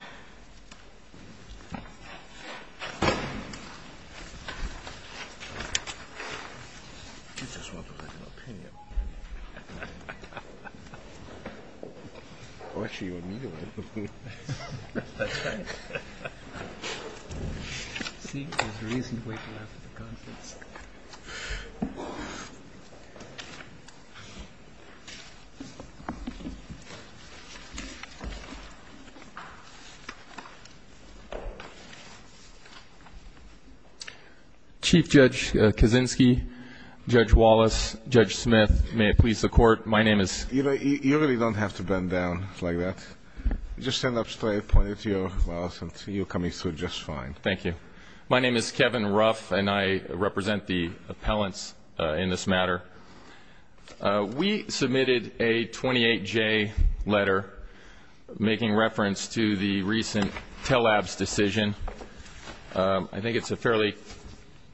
Grad Renewable Energy Chief Judge Kaczynski, Judge Wallace, Judge Smith, may it please the Court, my name is... You really don't have to bend down like that. Just stand up straight, point it to your mouth, and you're coming through just fine. Thank you. My name is Kevin Ruff, and I represent the appellants in this matter. We submitted a 28-J letter making reference to the recent Telabs decision. I think it's a fairly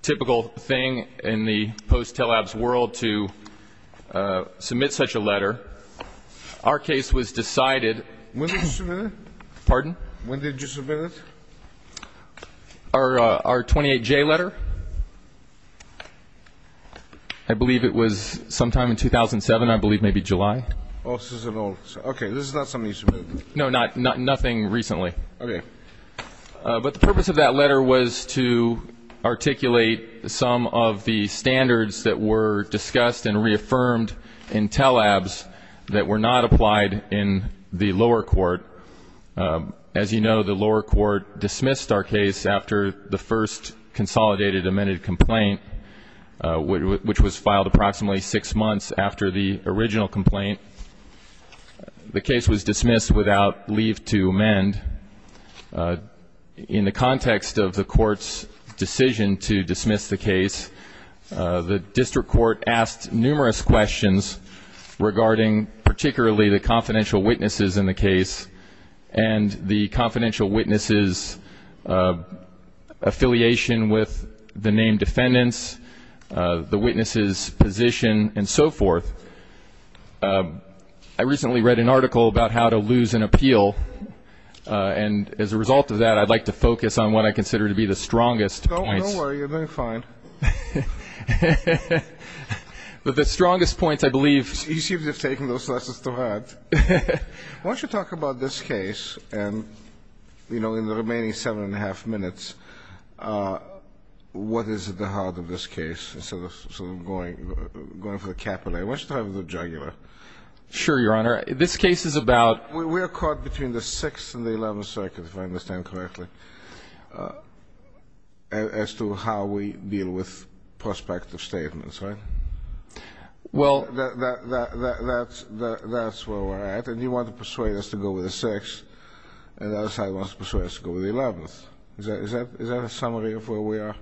typical thing in the post-Telabs world to submit such a letter. Our case was decided... When did you submit it? Pardon? When did you submit it? Our 28-J letter. I believe it was sometime in 2007, I believe, maybe July. Oh, this is an old... Okay, this is not something you submitted. No, nothing recently. Okay. But the purpose of that letter was to articulate some of the standards that were discussed and reaffirmed in Telabs that were not applied in the lower court. As you know, the lower court dismissed our case after the first consolidated amended complaint, which was filed approximately six months after the original complaint. The case was dismissed without leave to amend. In the context of the court's decision to dismiss the case, the district court asked numerous questions regarding particularly the confidential witnesses in the case and the confidential witnesses' affiliation with the named defendants, the witnesses' position, and so forth. I recently read an article about how to lose an appeal. And as a result of that, I'd like to focus on what I consider to be the strongest points. Don't worry. You're doing fine. But the strongest points, I believe... You seem to have taken those lessons to heart. Why don't you talk about this case and, you know, in the remaining seven and a half minutes, what is at the heart of this case instead of sort of going for the capillary? Why don't you start with the jugular? Sure, Your Honor. This case is about... We're caught between the 6th and the 11th circuit, if I understand correctly, as to how we deal with prospective statements, right? Well... That's where we're at. And you want to persuade us to go with the 6th, and the other side wants to persuade us to go with the 11th. Is that a summary of where we are?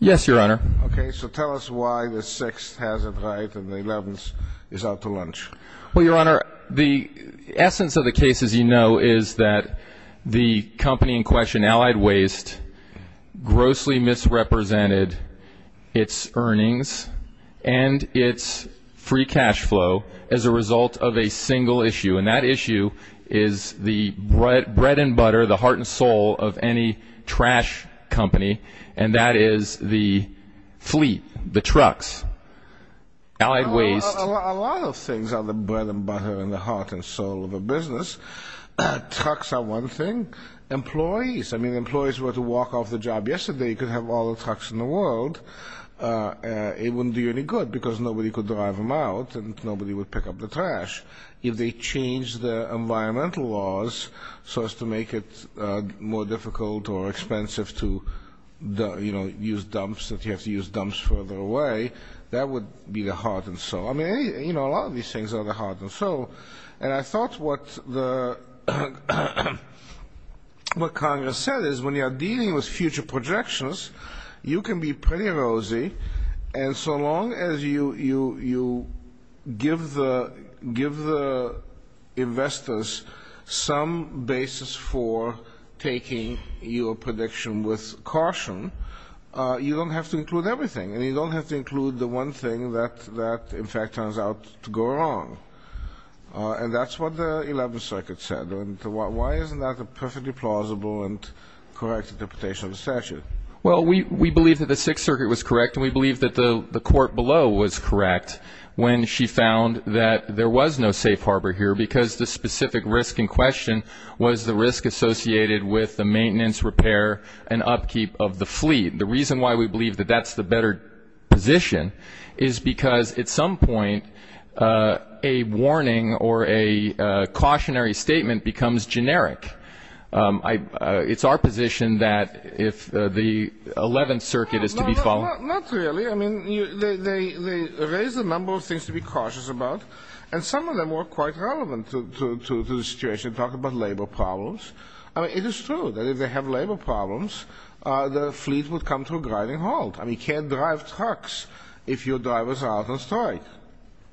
Yes, Your Honor. Okay. So tell us why the 6th has it right and the 11th is out to lunch. Well, Your Honor, the essence of the case, as you know, is that the company in question, Allied Waste, grossly misrepresented its earnings and its free cash flow as a result of a single issue. And that issue is the bread and butter, the heart and soul of any trash company, and that is the fleet, the trucks, Allied Waste. A lot of things are the bread and butter and the heart and soul of a business. Trucks are one thing. Employees, I mean, employees were to walk off the job yesterday, you could have all the trucks in the world, it wouldn't do you any good because nobody could drive them out and nobody would pick up the trash. If they change the environmental laws so as to make it more difficult or expensive to, you know, use dumps, that you have to use dumps further away, that would be the heart and soul. I mean, you know, a lot of these things are the heart and soul. And I thought what Congress said is when you're dealing with future projections, you can be pretty rosy and so long as you give the investors some basis for taking your prediction with caution, you don't have to include everything and you don't have to include the one thing that in fact turns out to go wrong. And that's what the 11th Circuit said. And why isn't that a perfectly plausible and correct interpretation of the statute? Well, we believe that the Sixth Circuit was correct and we believe that the court below was correct when she found that there was no safe harbor here because the specific risk in question was the risk associated with the maintenance, repair, and upkeep of the fleet. The reason why we believe that that's the better position is because at some point a warning or a cautionary statement becomes generic. It's our position that if the 11th Circuit is to be followed. Not really. I mean, they raised a number of things to be cautious about and some of them were quite relevant to the situation. Talk about labor problems. I mean, it is true that if they have labor problems, the fleet would come to a grinding halt. I mean, you can't drive trucks if your drivers are out of stock.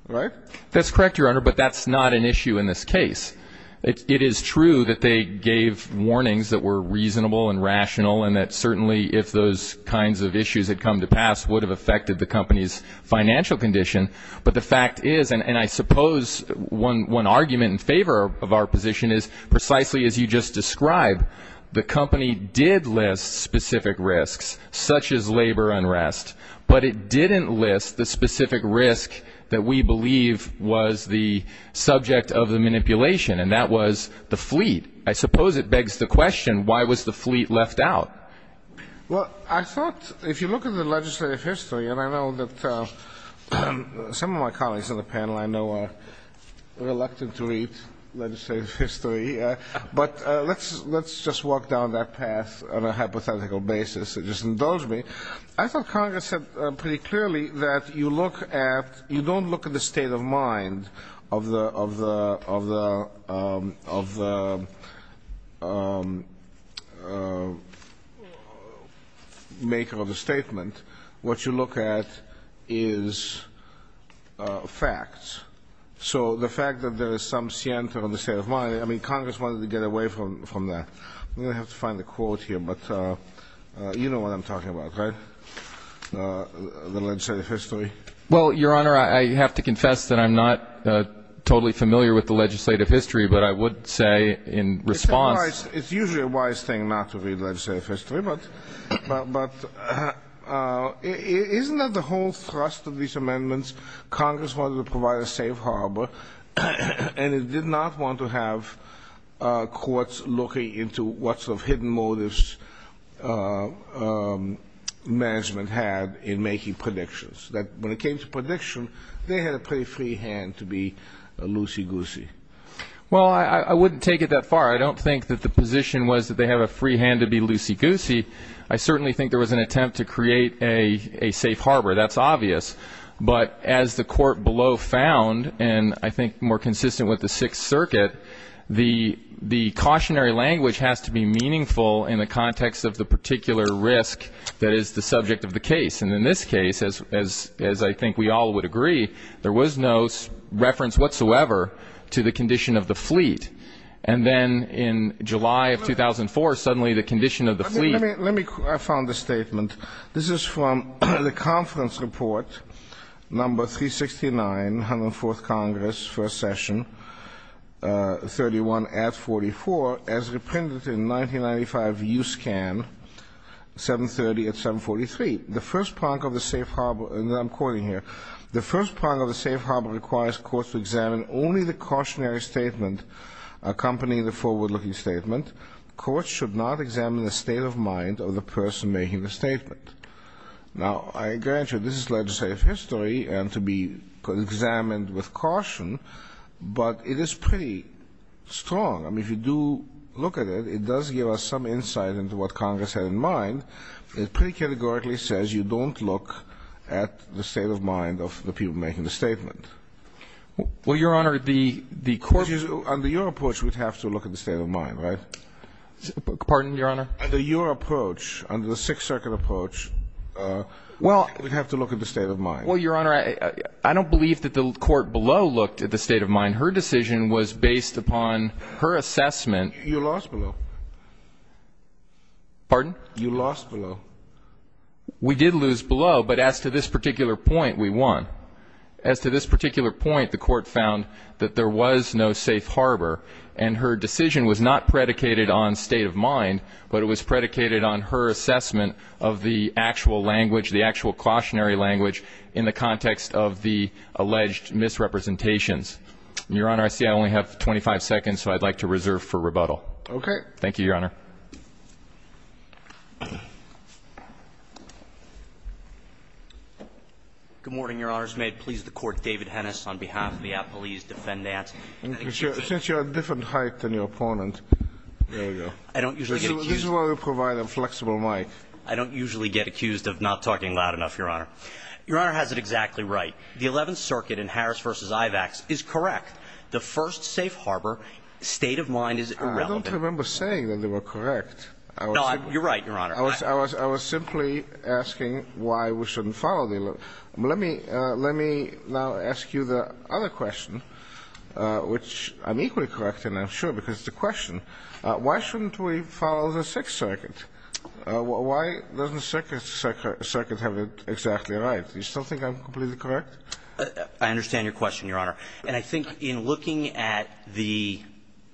Right? That's correct, Your Honor, but that's not an issue in this case. It is true that they gave warnings that were reasonable and rational and that certainly if those kinds of issues had come to pass, would have affected the company's financial condition. But the fact is, and I suppose one argument in favor of our position is, precisely as you just described, the company did list specific risks, such as labor unrest, but it didn't list the specific risk that we believe was the subject of the manipulation, and that was the fleet. I suppose it begs the question, why was the fleet left out? Well, I thought if you look at the legislative history, and I know that some of my colleagues on the panel I know are reluctant to read legislative history, but let's just walk down that path on a hypothetical basis. Just indulge me. I thought Congress said pretty clearly that you don't look at the state of mind of the maker of the statement. What you look at is facts. So the fact that there is some scienter on the state of mind, I mean, Congress wanted to get away from that. I'm going to have to find the quote here, but you know what I'm talking about, right? The legislative history. Well, Your Honor, I have to confess that I'm not totally familiar with the legislative history, but I would say in response. It's usually a wise thing not to read legislative history, but isn't that the whole thrust of these amendments? Congress wanted to provide a safe harbor, and it did not want to have courts looking into what sort of hidden motives management had in making predictions. When it came to predictions, they had a pretty free hand to be loosey-goosey. Well, I wouldn't take it that far. I don't think that the position was that they have a free hand to be loosey-goosey. I certainly think there was an attempt to create a safe harbor. That's obvious. But as the court below found, and I think more consistent with the Sixth Circuit, the cautionary language has to be meaningful in the context of the particular risk that is the subject of the case. And in this case, as I think we all would agree, there was no reference whatsoever to the condition of the fleet. And then in July of 2004, suddenly the condition of the fleet. I found a statement. This is from the conference report number 369, 104th Congress, first session, 31 at 44, as reprinted in 1995 USCAN, 730 at 743. The first part of the safe harbor, and I'm quoting here, the first part of the safe harbor requires courts to examine only the cautionary statement accompanying the forward-looking statement. Courts should not examine the state of mind of the person making the statement. Now, I grant you this is legislative history and to be examined with caution, but it is pretty strong. I mean, if you do look at it, it does give us some insight into what Congress had in mind. It pretty categorically says you don't look at the state of mind of the people making the statement. Well, Your Honor, the court used to under your approach would have to look at the state of mind, right? Pardon, Your Honor? Under your approach, under the Sixth Circuit approach, would have to look at the state of mind. Well, Your Honor, I don't believe that the court below looked at the state of mind. Her decision was based upon her assessment. You lost below. Pardon? You lost below. We did lose below, but as to this particular point, we won. As to this particular point, the court found that there was no safe harbor, and her decision was not predicated on state of mind, but it was predicated on her assessment of the actual language, the actual cautionary language in the context of the alleged misrepresentations. And, Your Honor, I see I only have 25 seconds, so I'd like to reserve for rebuttal. Okay. Thank you, Your Honor. Good morning, Your Honors. May it please the Court, David Hennis on behalf of the appellee's defendant. Since you're at a different height than your opponent, there you go. I don't usually get accused. This is why we provide a flexible mic. I don't usually get accused of not talking loud enough, Your Honor. Your Honor has it exactly right. The Eleventh Circuit in Harris v. Ivax is correct. The first safe harbor, state of mind is irrelevant. I don't remember saying that they were correct. No, you're right, Your Honor. I was simply asking why we shouldn't follow the 11th. Let me now ask you the other question, which I'm equally correct in, I'm sure, because it's a question. Why shouldn't we follow the Sixth Circuit? Why doesn't the Sixth Circuit have it exactly right? Do you still think I'm completely correct? I understand your question, Your Honor. And I think in looking at the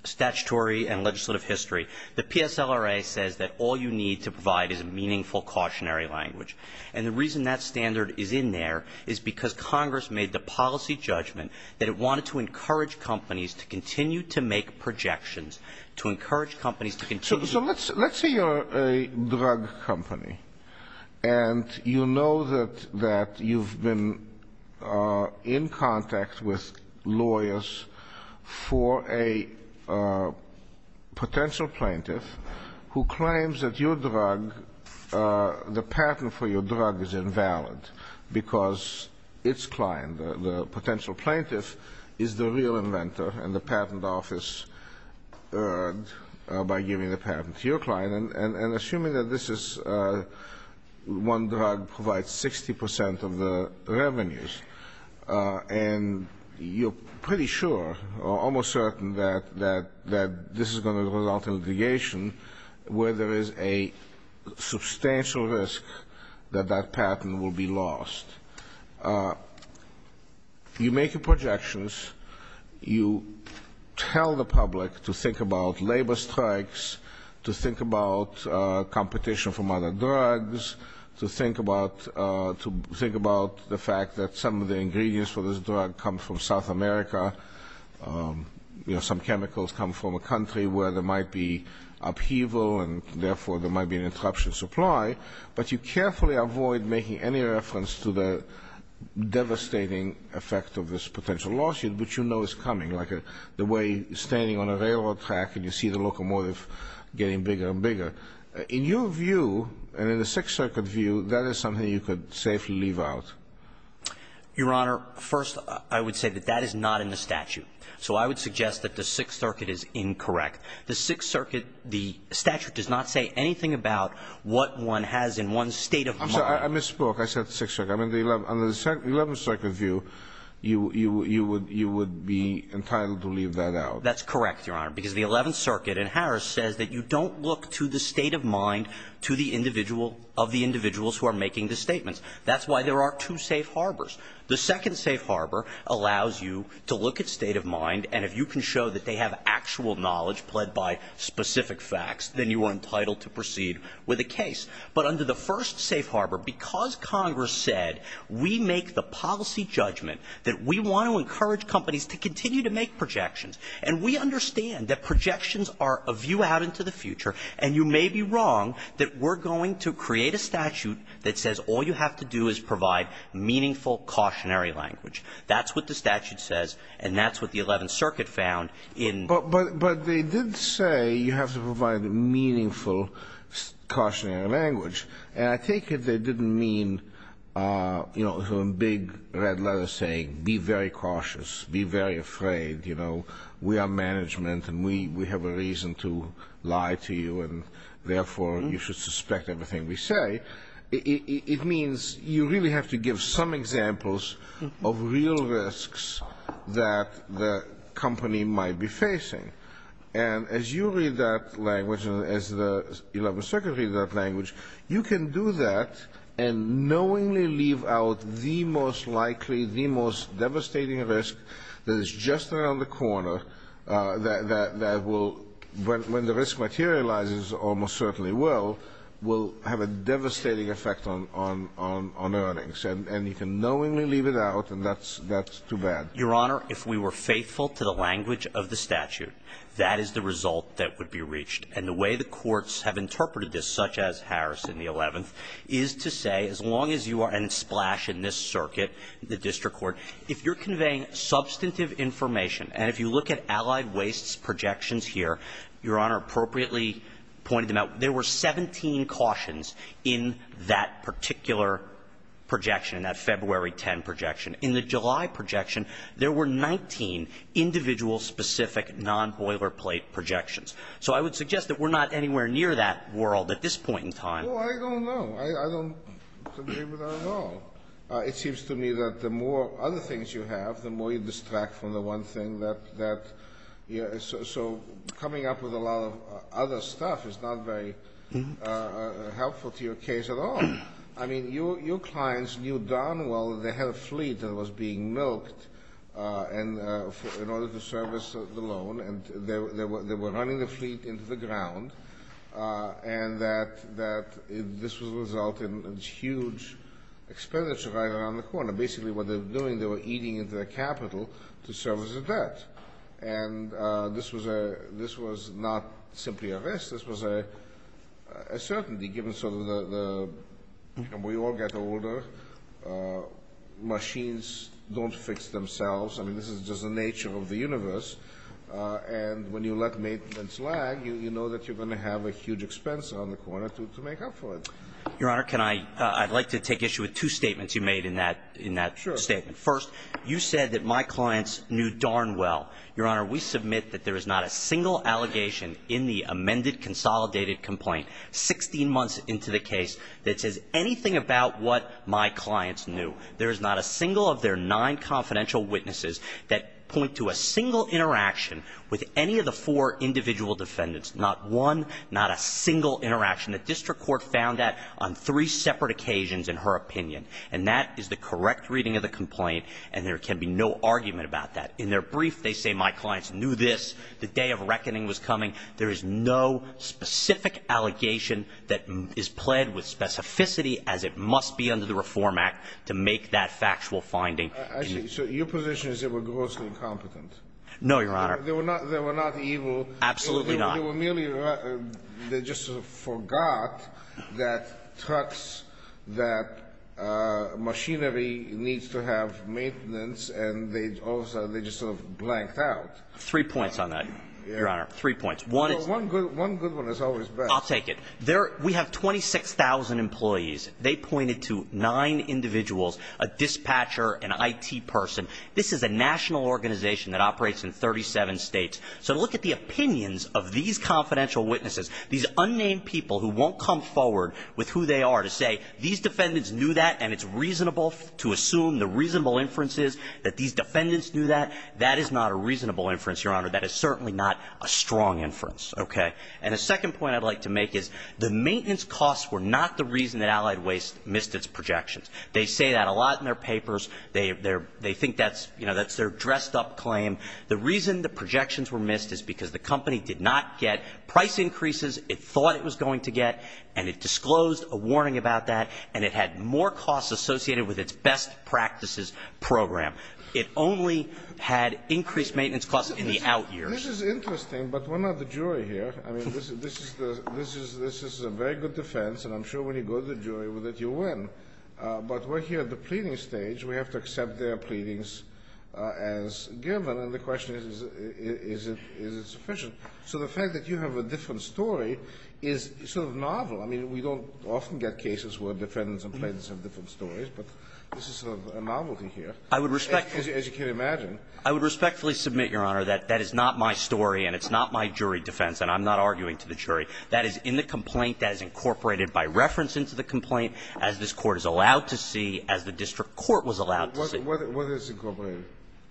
statutory and legislative history, the PSLRA says that all you need to provide is a meaningful cautionary language. And the reason that standard is in there is because Congress made the policy judgment that it wanted to encourage companies to continue to make projections, to encourage companies to continue. So let's say you're a drug company, and you know that you've been in contact with lawyers for a potential plaintiff who claims that your drug, the patent for your drug is invalid because its client, the potential plaintiff, is the real inventor and the patent office earned by giving the patent to your client. And assuming that this is one drug provides 60% of the revenues, and you're pretty sure or almost certain that this is going to result in litigation where there is a substantial risk that that patent will be lost. You make your projections. You tell the public to think about labor strikes, to think about competition from other drugs, to think about the fact that some of the ingredients for this drug come from South America, some chemicals come from a country where there might be upheaval and, therefore, there might be an interruption of supply. But you carefully avoid making any reference to the devastating effect of this potential lawsuit, which you know is coming, like the way you're standing on a railroad track and you see the locomotive getting bigger and bigger. In your view, and in the Sixth Circuit view, that is something you could safely leave out. Your Honor, first, I would say that that is not in the statute. So I would suggest that the Sixth Circuit is incorrect. The Sixth Circuit, the statute does not say anything about what one has in one's state of mind. I'm sorry. I misspoke. I said the Sixth Circuit. Under the Eleventh Circuit view, you would be entitled to leave that out. That's correct, Your Honor, because the Eleventh Circuit in Harris says that you don't look to the state of mind of the individuals who are making the statements. That's why there are two safe harbors. The second safe harbor allows you to look at state of mind, and if you can show that they have actual knowledge pledged by specific facts, then you are entitled to proceed with the case. But under the first safe harbor, because Congress said we make the policy judgment that we want to encourage companies to continue to make projections and we understand that projections are a view out into the future and you may be wrong that we're going to create a statute that says all you have to do is provide meaningful, cautionary language. That's what the statute says, and that's what the Eleventh Circuit found in the Sixth Circuit. But they did say you have to provide meaningful, cautionary language. And I take it they didn't mean, you know, a big red letter saying be very cautious, be very afraid, you know, we are management and we have a reason to lie to you and therefore you should suspect everything we say. It means you really have to give some examples of real risks that the company might be facing. And as you read that language and as the Eleventh Circuit read that language, you can do that and knowingly leave out the most likely, the most devastating risk that is just around the corner that will, when the risk materializes almost certainly will, will have a devastating effect on earnings. And you can knowingly leave it out and that's too bad. Your Honor, if we were faithful to the language of the statute, that is the result that would be reached. And the way the courts have interpreted this, such as Harris in the Eleventh, is to say as long as you are in a splash in this circuit, the district court, if you're conveying substantive information, and if you look at Allied Waste's projections here, Your Honor appropriately pointed them out, there were 17 cautions in that particular projection, in that February 10 projection. In the July projection, there were 19 individual-specific, non-boilerplate projections. So I would suggest that we're not anywhere near that world at this point in time. Well, I don't know. I don't agree with that at all. It seems to me that the more other things you have, the more you distract from the one thing that, you know, so coming up with a lot of other stuff is not very helpful to your case at all. I mean, your clients knew darn well that they had a fleet that was being milked in order to service the loan, and they were running the fleet into the ground, and that this would result in huge expenditure right around the corner. Basically, what they were doing, they were eating into their capital to service the debt. And this was not simply a risk. This was a certainty, given sort of the, you know, we all get older, machines don't fix themselves. I mean, this is just the nature of the universe. And when you let maintenance lag, you know that you're going to have a huge expense around the corner to make up for it. Your Honor, I'd like to take issue with two statements you made in that statement. First, you said that my clients knew darn well. Your Honor, we submit that there is not a single allegation in the amended consolidated complaint, 16 months into the case, that says anything about what my clients knew. There is not a single of their nine confidential witnesses that point to a single interaction with any of the four individual defendants. Not one, not a single interaction. The district court found that on three separate occasions, in her opinion. And that is the correct reading of the complaint, and there can be no argument about that. In their brief, they say my clients knew this, the day of reckoning was coming. There is no specific allegation that is pled with specificity, as it must be to make that factual finding. So your position is they were grossly incompetent. No, Your Honor. They were not evil. Absolutely not. They were merely, they just forgot that trucks, that machinery needs to have maintenance, and they just sort of blanked out. Three points on that, Your Honor. Three points. One good one is always best. I'll take it. We have 26,000 employees. They pointed to nine individuals, a dispatcher, an IT person. This is a national organization that operates in 37 states. So look at the opinions of these confidential witnesses. These unnamed people who won't come forward with who they are to say these defendants knew that, and it's reasonable to assume the reasonable inferences that these defendants knew that. That is not a reasonable inference, Your Honor. That is certainly not a strong inference. Okay? And the second point I'd like to make is the maintenance costs were not the reason that Allied Waste missed its projections. They say that a lot in their papers. They think that's their dressed-up claim. The reason the projections were missed is because the company did not get price increases it thought it was going to get, and it disclosed a warning about that, and it had more costs associated with its best practices program. It only had increased maintenance costs in the out years. This is interesting, but we're not the jury here. I mean, this is a very good defense, and I'm sure when you go to the jury with it, you win. But we're here at the pleading stage. We have to accept their pleadings as given, and the question is, is it sufficient? So the fact that you have a different story is sort of novel. I mean, we don't often get cases where defendants and plaintiffs have different stories, but this is sort of a novelty here, as you can imagine. I would respectfully submit, Your Honor, that that is not my story and it's not my argument to the jury. That is in the complaint that is incorporated by reference into the complaint as this Court is allowed to see, as the district court was allowed to see. What is incorporated?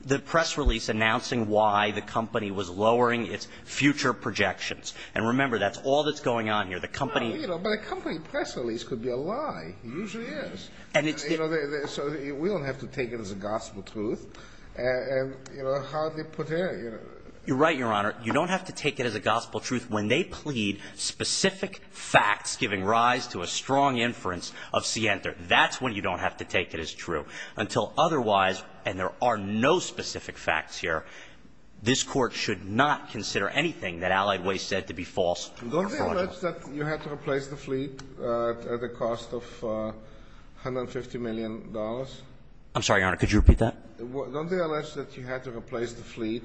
The press release announcing why the company was lowering its future projections. And remember, that's all that's going on here. The company – But a company press release could be a lie. It usually is. And it's the – So we don't have to take it as a gospel truth. And, you know, how did they put it? You're right, Your Honor. You don't have to take it as a gospel truth when they plead specific facts giving rise to a strong inference of Sienter. That's when you don't have to take it as true. Until otherwise, and there are no specific facts here, this Court should not consider anything that Allied Waste said to be false. Don't they allege that you had to replace the fleet at a cost of $150 million? I'm sorry, Your Honor. Could you repeat that? Don't they allege that you had to replace the fleet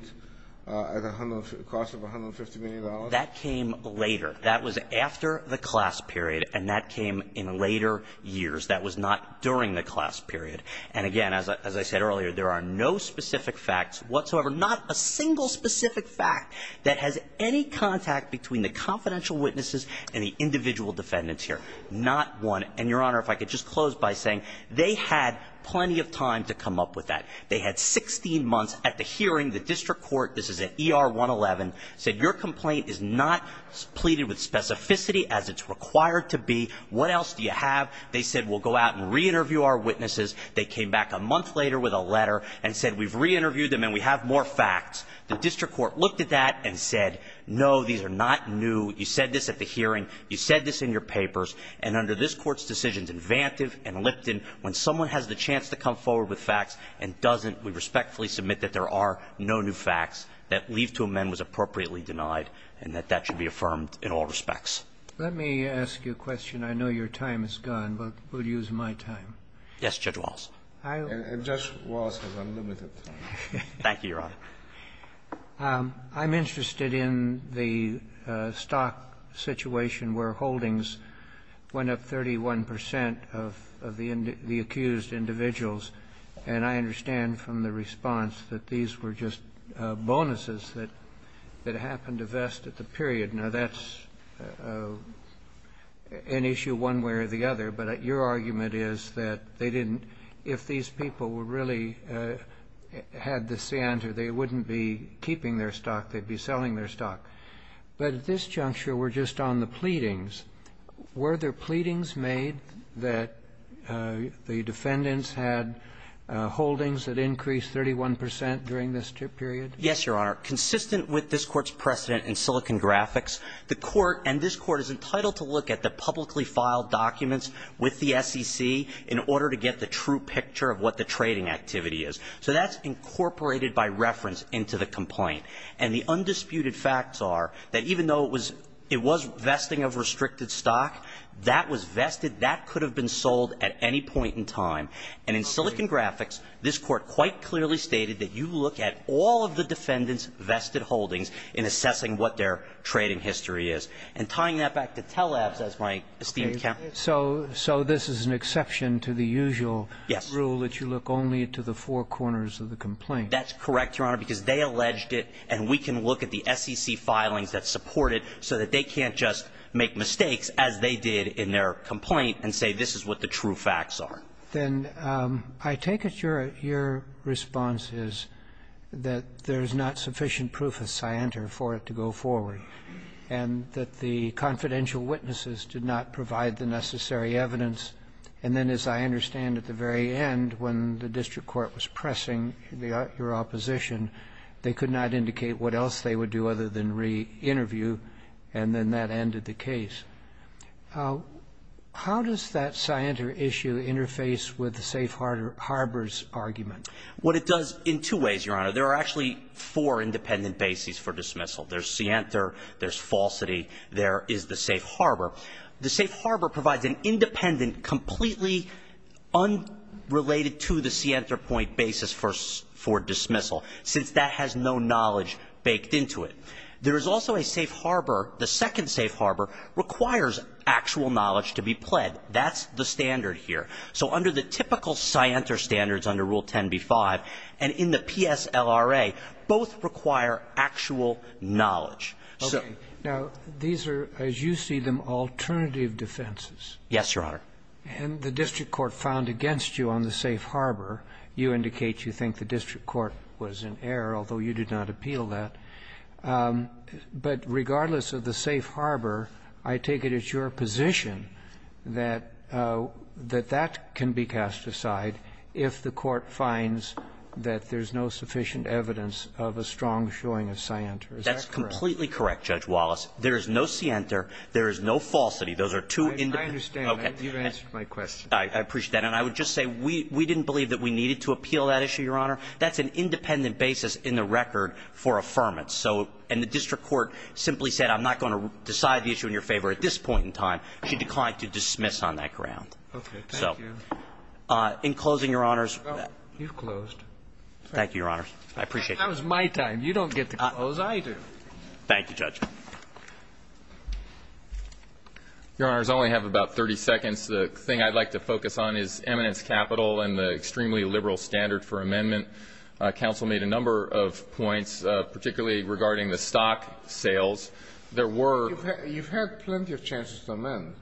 at a cost of $150 million? That came later. That was after the class period, and that came in later years. That was not during the class period. And, again, as I said earlier, there are no specific facts whatsoever, not a single specific fact that has any contact between the confidential witnesses and the individual defendants here, not one. And, Your Honor, if I could just close by saying they had plenty of time to come up with that. They had 16 months at the hearing. The district court, this is at ER 111, said, Your complaint is not pleaded with specificity as it's required to be. What else do you have? They said, We'll go out and re-interview our witnesses. They came back a month later with a letter and said, We've re-interviewed them and we have more facts. The district court looked at that and said, No, these are not new. You said this at the hearing. You said this in your papers. And under this Court's decisions in Vantive and Lipton, when someone has the chance to come forward with facts and doesn't, we respectfully submit that there are no new facts, that leave to amend was appropriately denied, and that that should be affirmed in all respects. Let me ask you a question. I know your time is gone, but we'll use my time. Yes, Judge Walz. And Judge Walz has unlimited time. Thank you, Your Honor. I'm interested in the stock situation where holdings went up 31 percent of the accused individuals, and I understand from the response that these were just bonuses that happened to vest at the period. Now, that's an issue one way or the other, but your argument is that they didn't need, if these people were really at the center, they wouldn't be keeping their stock, they'd be selling their stock. But at this juncture, we're just on the pleadings. Were there pleadings made that the defendants had holdings that increased 31 percent during this period? Yes, Your Honor. Consistent with this Court's precedent in Silicon Graphics, the Court and this Court is entitled to look at the publicly filed documents with the SEC in order to get the true picture of what the trading activity is. So that's incorporated by reference into the complaint. And the undisputed facts are that even though it was vesting of restricted stock, that was vested, that could have been sold at any point in time. And in Silicon Graphics, this Court quite clearly stated that you look at all of the defendants' vested holdings in assessing what their trading history is. And tying that back to Telabs, as my esteemed counsel. So this is an exception to the usual rule that you look only to the four corners of the complaint. That's correct, Your Honor, because they alleged it, and we can look at the SEC filings that support it so that they can't just make mistakes, as they did in their complaint, and say this is what the true facts are. Then I take it your response is that there's not sufficient proof of scienter for it to go forward. And that the confidential witnesses did not provide the necessary evidence. And then, as I understand, at the very end, when the district court was pressing your opposition, they could not indicate what else they would do other than reinterview, and then that ended the case. How does that scienter issue interface with the safe harbors argument? What it does in two ways, Your Honor. There are actually four independent bases for dismissal. There's scienter, there's falsity, there is the safe harbor. The safe harbor provides an independent, completely unrelated to the scienter point basis for dismissal, since that has no knowledge baked into it. There is also a safe harbor, the second safe harbor, requires actual knowledge to be pled. That's the standard here. So under the typical scienter standards under Rule 10b-5, and in the PSLRA, both require actual knowledge. So these are, as you see them, alternative defenses. Yes, Your Honor. And the district court found against you on the safe harbor. You indicate you think the district court was in error, although you did not appeal that. But regardless of the safe harbor, I take it it's your position that that can be cast aside if the court finds that there's no sufficient evidence of a strong showing of scienter. Is that correct? That's completely correct, Judge Wallace. There is no scienter. There is no falsity. Those are two independent. I understand. You've answered my question. I appreciate that. And I would just say we didn't believe that we needed to appeal that issue, Your Honor. That's an independent basis in the record for affirmance. So and the district court simply said I'm not going to decide the issue in your favor at this point in time. She declined to dismiss on that ground. Okay. Thank you. In closing, Your Honors. You've closed. Thank you, Your Honors. I appreciate it. That was my time. You don't get to close. I do. Thank you, Judge. Your Honors, I only have about 30 seconds. The thing I'd like to focus on is eminence capital and the extremely liberal standard for amendment. Counsel made a number of points, particularly regarding the stock sales. There were. You've had plenty of chances to amend.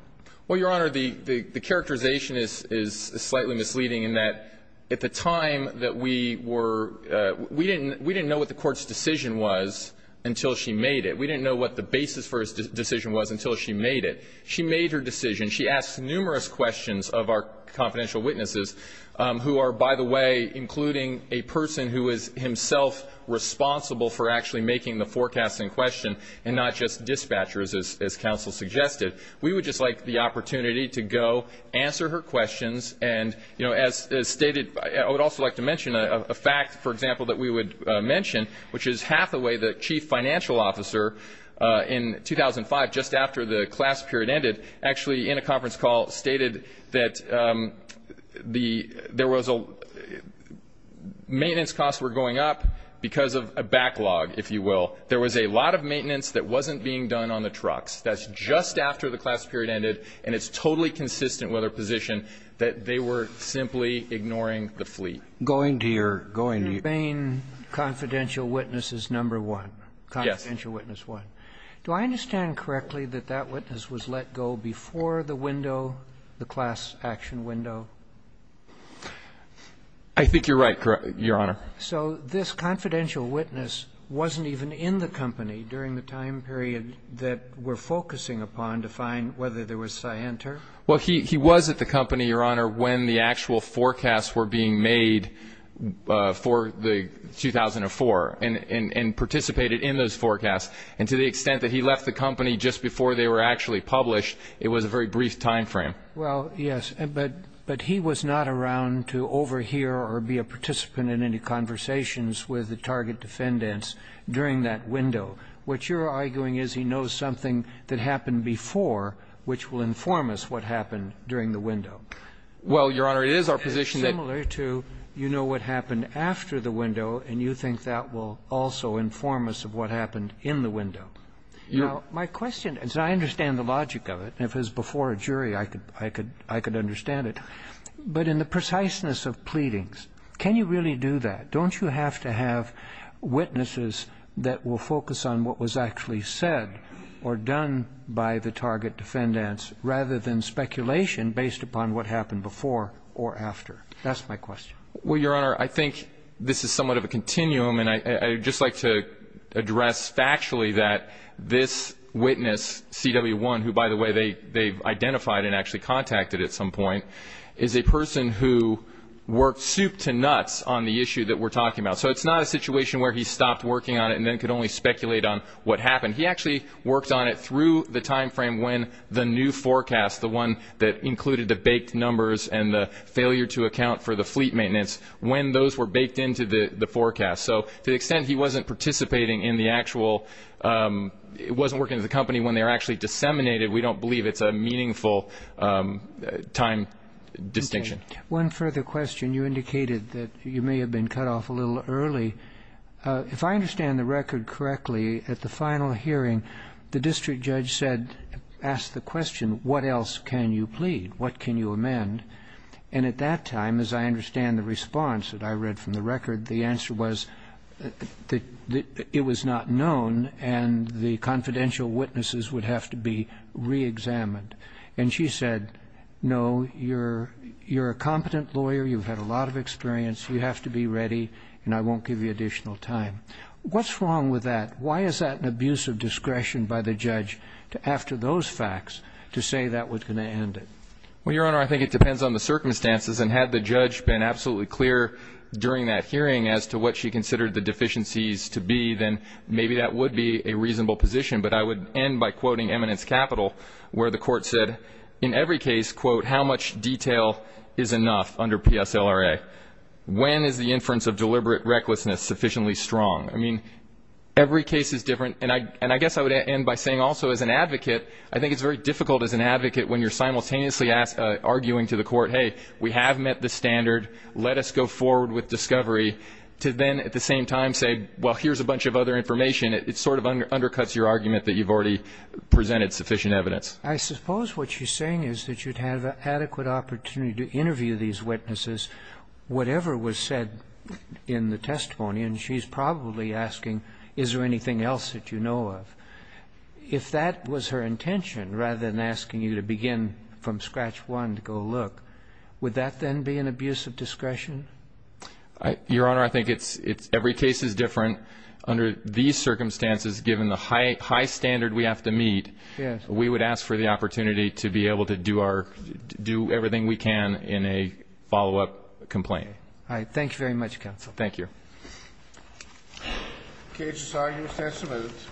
Well, Your Honor, the characterization is slightly misleading in that at the time that we were we didn't we didn't know what the court's decision was until she made it. We didn't know what the basis for his decision was until she made it. She made her decision. She asked numerous questions of our confidential witnesses who are, by the way, including a person who is himself responsible for actually making the forecast in question and not just dispatchers, as counsel suggested. We would just like the opportunity to go answer her questions. And, you know, as stated, I would also like to mention a fact, for example, that we would mention, which is Hathaway, the chief financial officer in 2005 just after the class period ended, actually in a conference call stated that there was a maintenance costs were going up because of a backlog, if you will. There was a lot of maintenance that wasn't being done on the trucks. That's just after the class period ended, and it's totally consistent with her position that they were simply ignoring the fleet. Going to your going to your Mr. Bain, confidential witness is number one. Yes. Confidential witness one. Do I understand correctly that that witness was let go before the window, the class action window? I think you're right, Your Honor. So this confidential witness wasn't even in the company during the time period that we're focusing upon to find whether there was cyanide. Well, he was at the company, Your Honor, when the actual forecasts were being made for the 2004 and participated in those forecasts. And to the extent that he left the company just before they were actually published, it was a very brief time frame. Well, yes. But he was not around to overhear or be a participant in any conversations with the target defendants during that window. What you're arguing is he knows something that happened before, which will inform us what happened during the window. Well, Your Honor, it is our position that you know what happened after the window, and you think that will also inform us of what happened in the window. Now, my question, as I understand the logic of it, and if it was before a jury, I could understand it, but in the preciseness of pleadings, can you really do that? Don't you have to have witnesses that will focus on what was actually said or done by the target defendants rather than speculation based upon what happened before or after? That's my question. Well, Your Honor, I think this is somewhat of a continuum, and I would just like to address factually that this witness, CW1, who, by the way, they've identified and actually contacted at some point, is a person who worked soup to nuts on the issue that we're talking about. So it's not a situation where he stopped working on it and then could only speculate on what happened. He actually worked on it through the time frame when the new forecast, the one that included the baked numbers and the failure to account for the fleet maintenance, when those were baked into the forecast. So to the extent he wasn't participating in the actual, wasn't working with the company when they were actually disseminated, we don't believe it's a meaningful time distinction. Okay. One further question. You indicated that you may have been cut off a little early. If I understand the record correctly, at the final hearing, the district judge said, asked the question, what else can you plead? What can you amend? And at that time, as I understand the response that I read from the record, the answer was that it was not known and the confidential witnesses would have to be reexamined. And she said, no, you're a competent lawyer. You've had a lot of experience. You have to be ready, and I won't give you additional time. What's wrong with that? Why is that an abuse of discretion by the judge after those facts to say that was going to end it? Well, Your Honor, I think it depends on the circumstances. And had the judge been absolutely clear during that hearing as to what she considered the deficiencies to be, then maybe that would be a reasonable position. But I would end by quoting Eminence Capital, where the court said, in every case, quote, how much detail is enough under PSLRA? When is the inference of deliberate recklessness sufficiently strong? I mean, every case is different. And I guess I would end by saying also as an advocate, I think it's very difficult as an advocate when you're simultaneously arguing to the court, hey, we have met the standard, let us go forward with discovery, to then at the same time say, well, here's a bunch of other information. It sort of undercuts your argument that you've already presented sufficient evidence. I suppose what she's saying is that you'd have adequate opportunity to interview these witnesses, whatever was said in the testimony. And she's probably asking, is there anything else that you know of? If that was her intention, rather than asking you to begin from scratch one to go look, would that then be an abuse of discretion? Your Honor, I think it's every case is different. Under these circumstances, given the high standard we have to meet, we would ask for the opportunity to be able to do everything we can in a follow-up complaint. All right. Thank you very much, counsel. Thank you. Okay. Just argue a sense of evidence.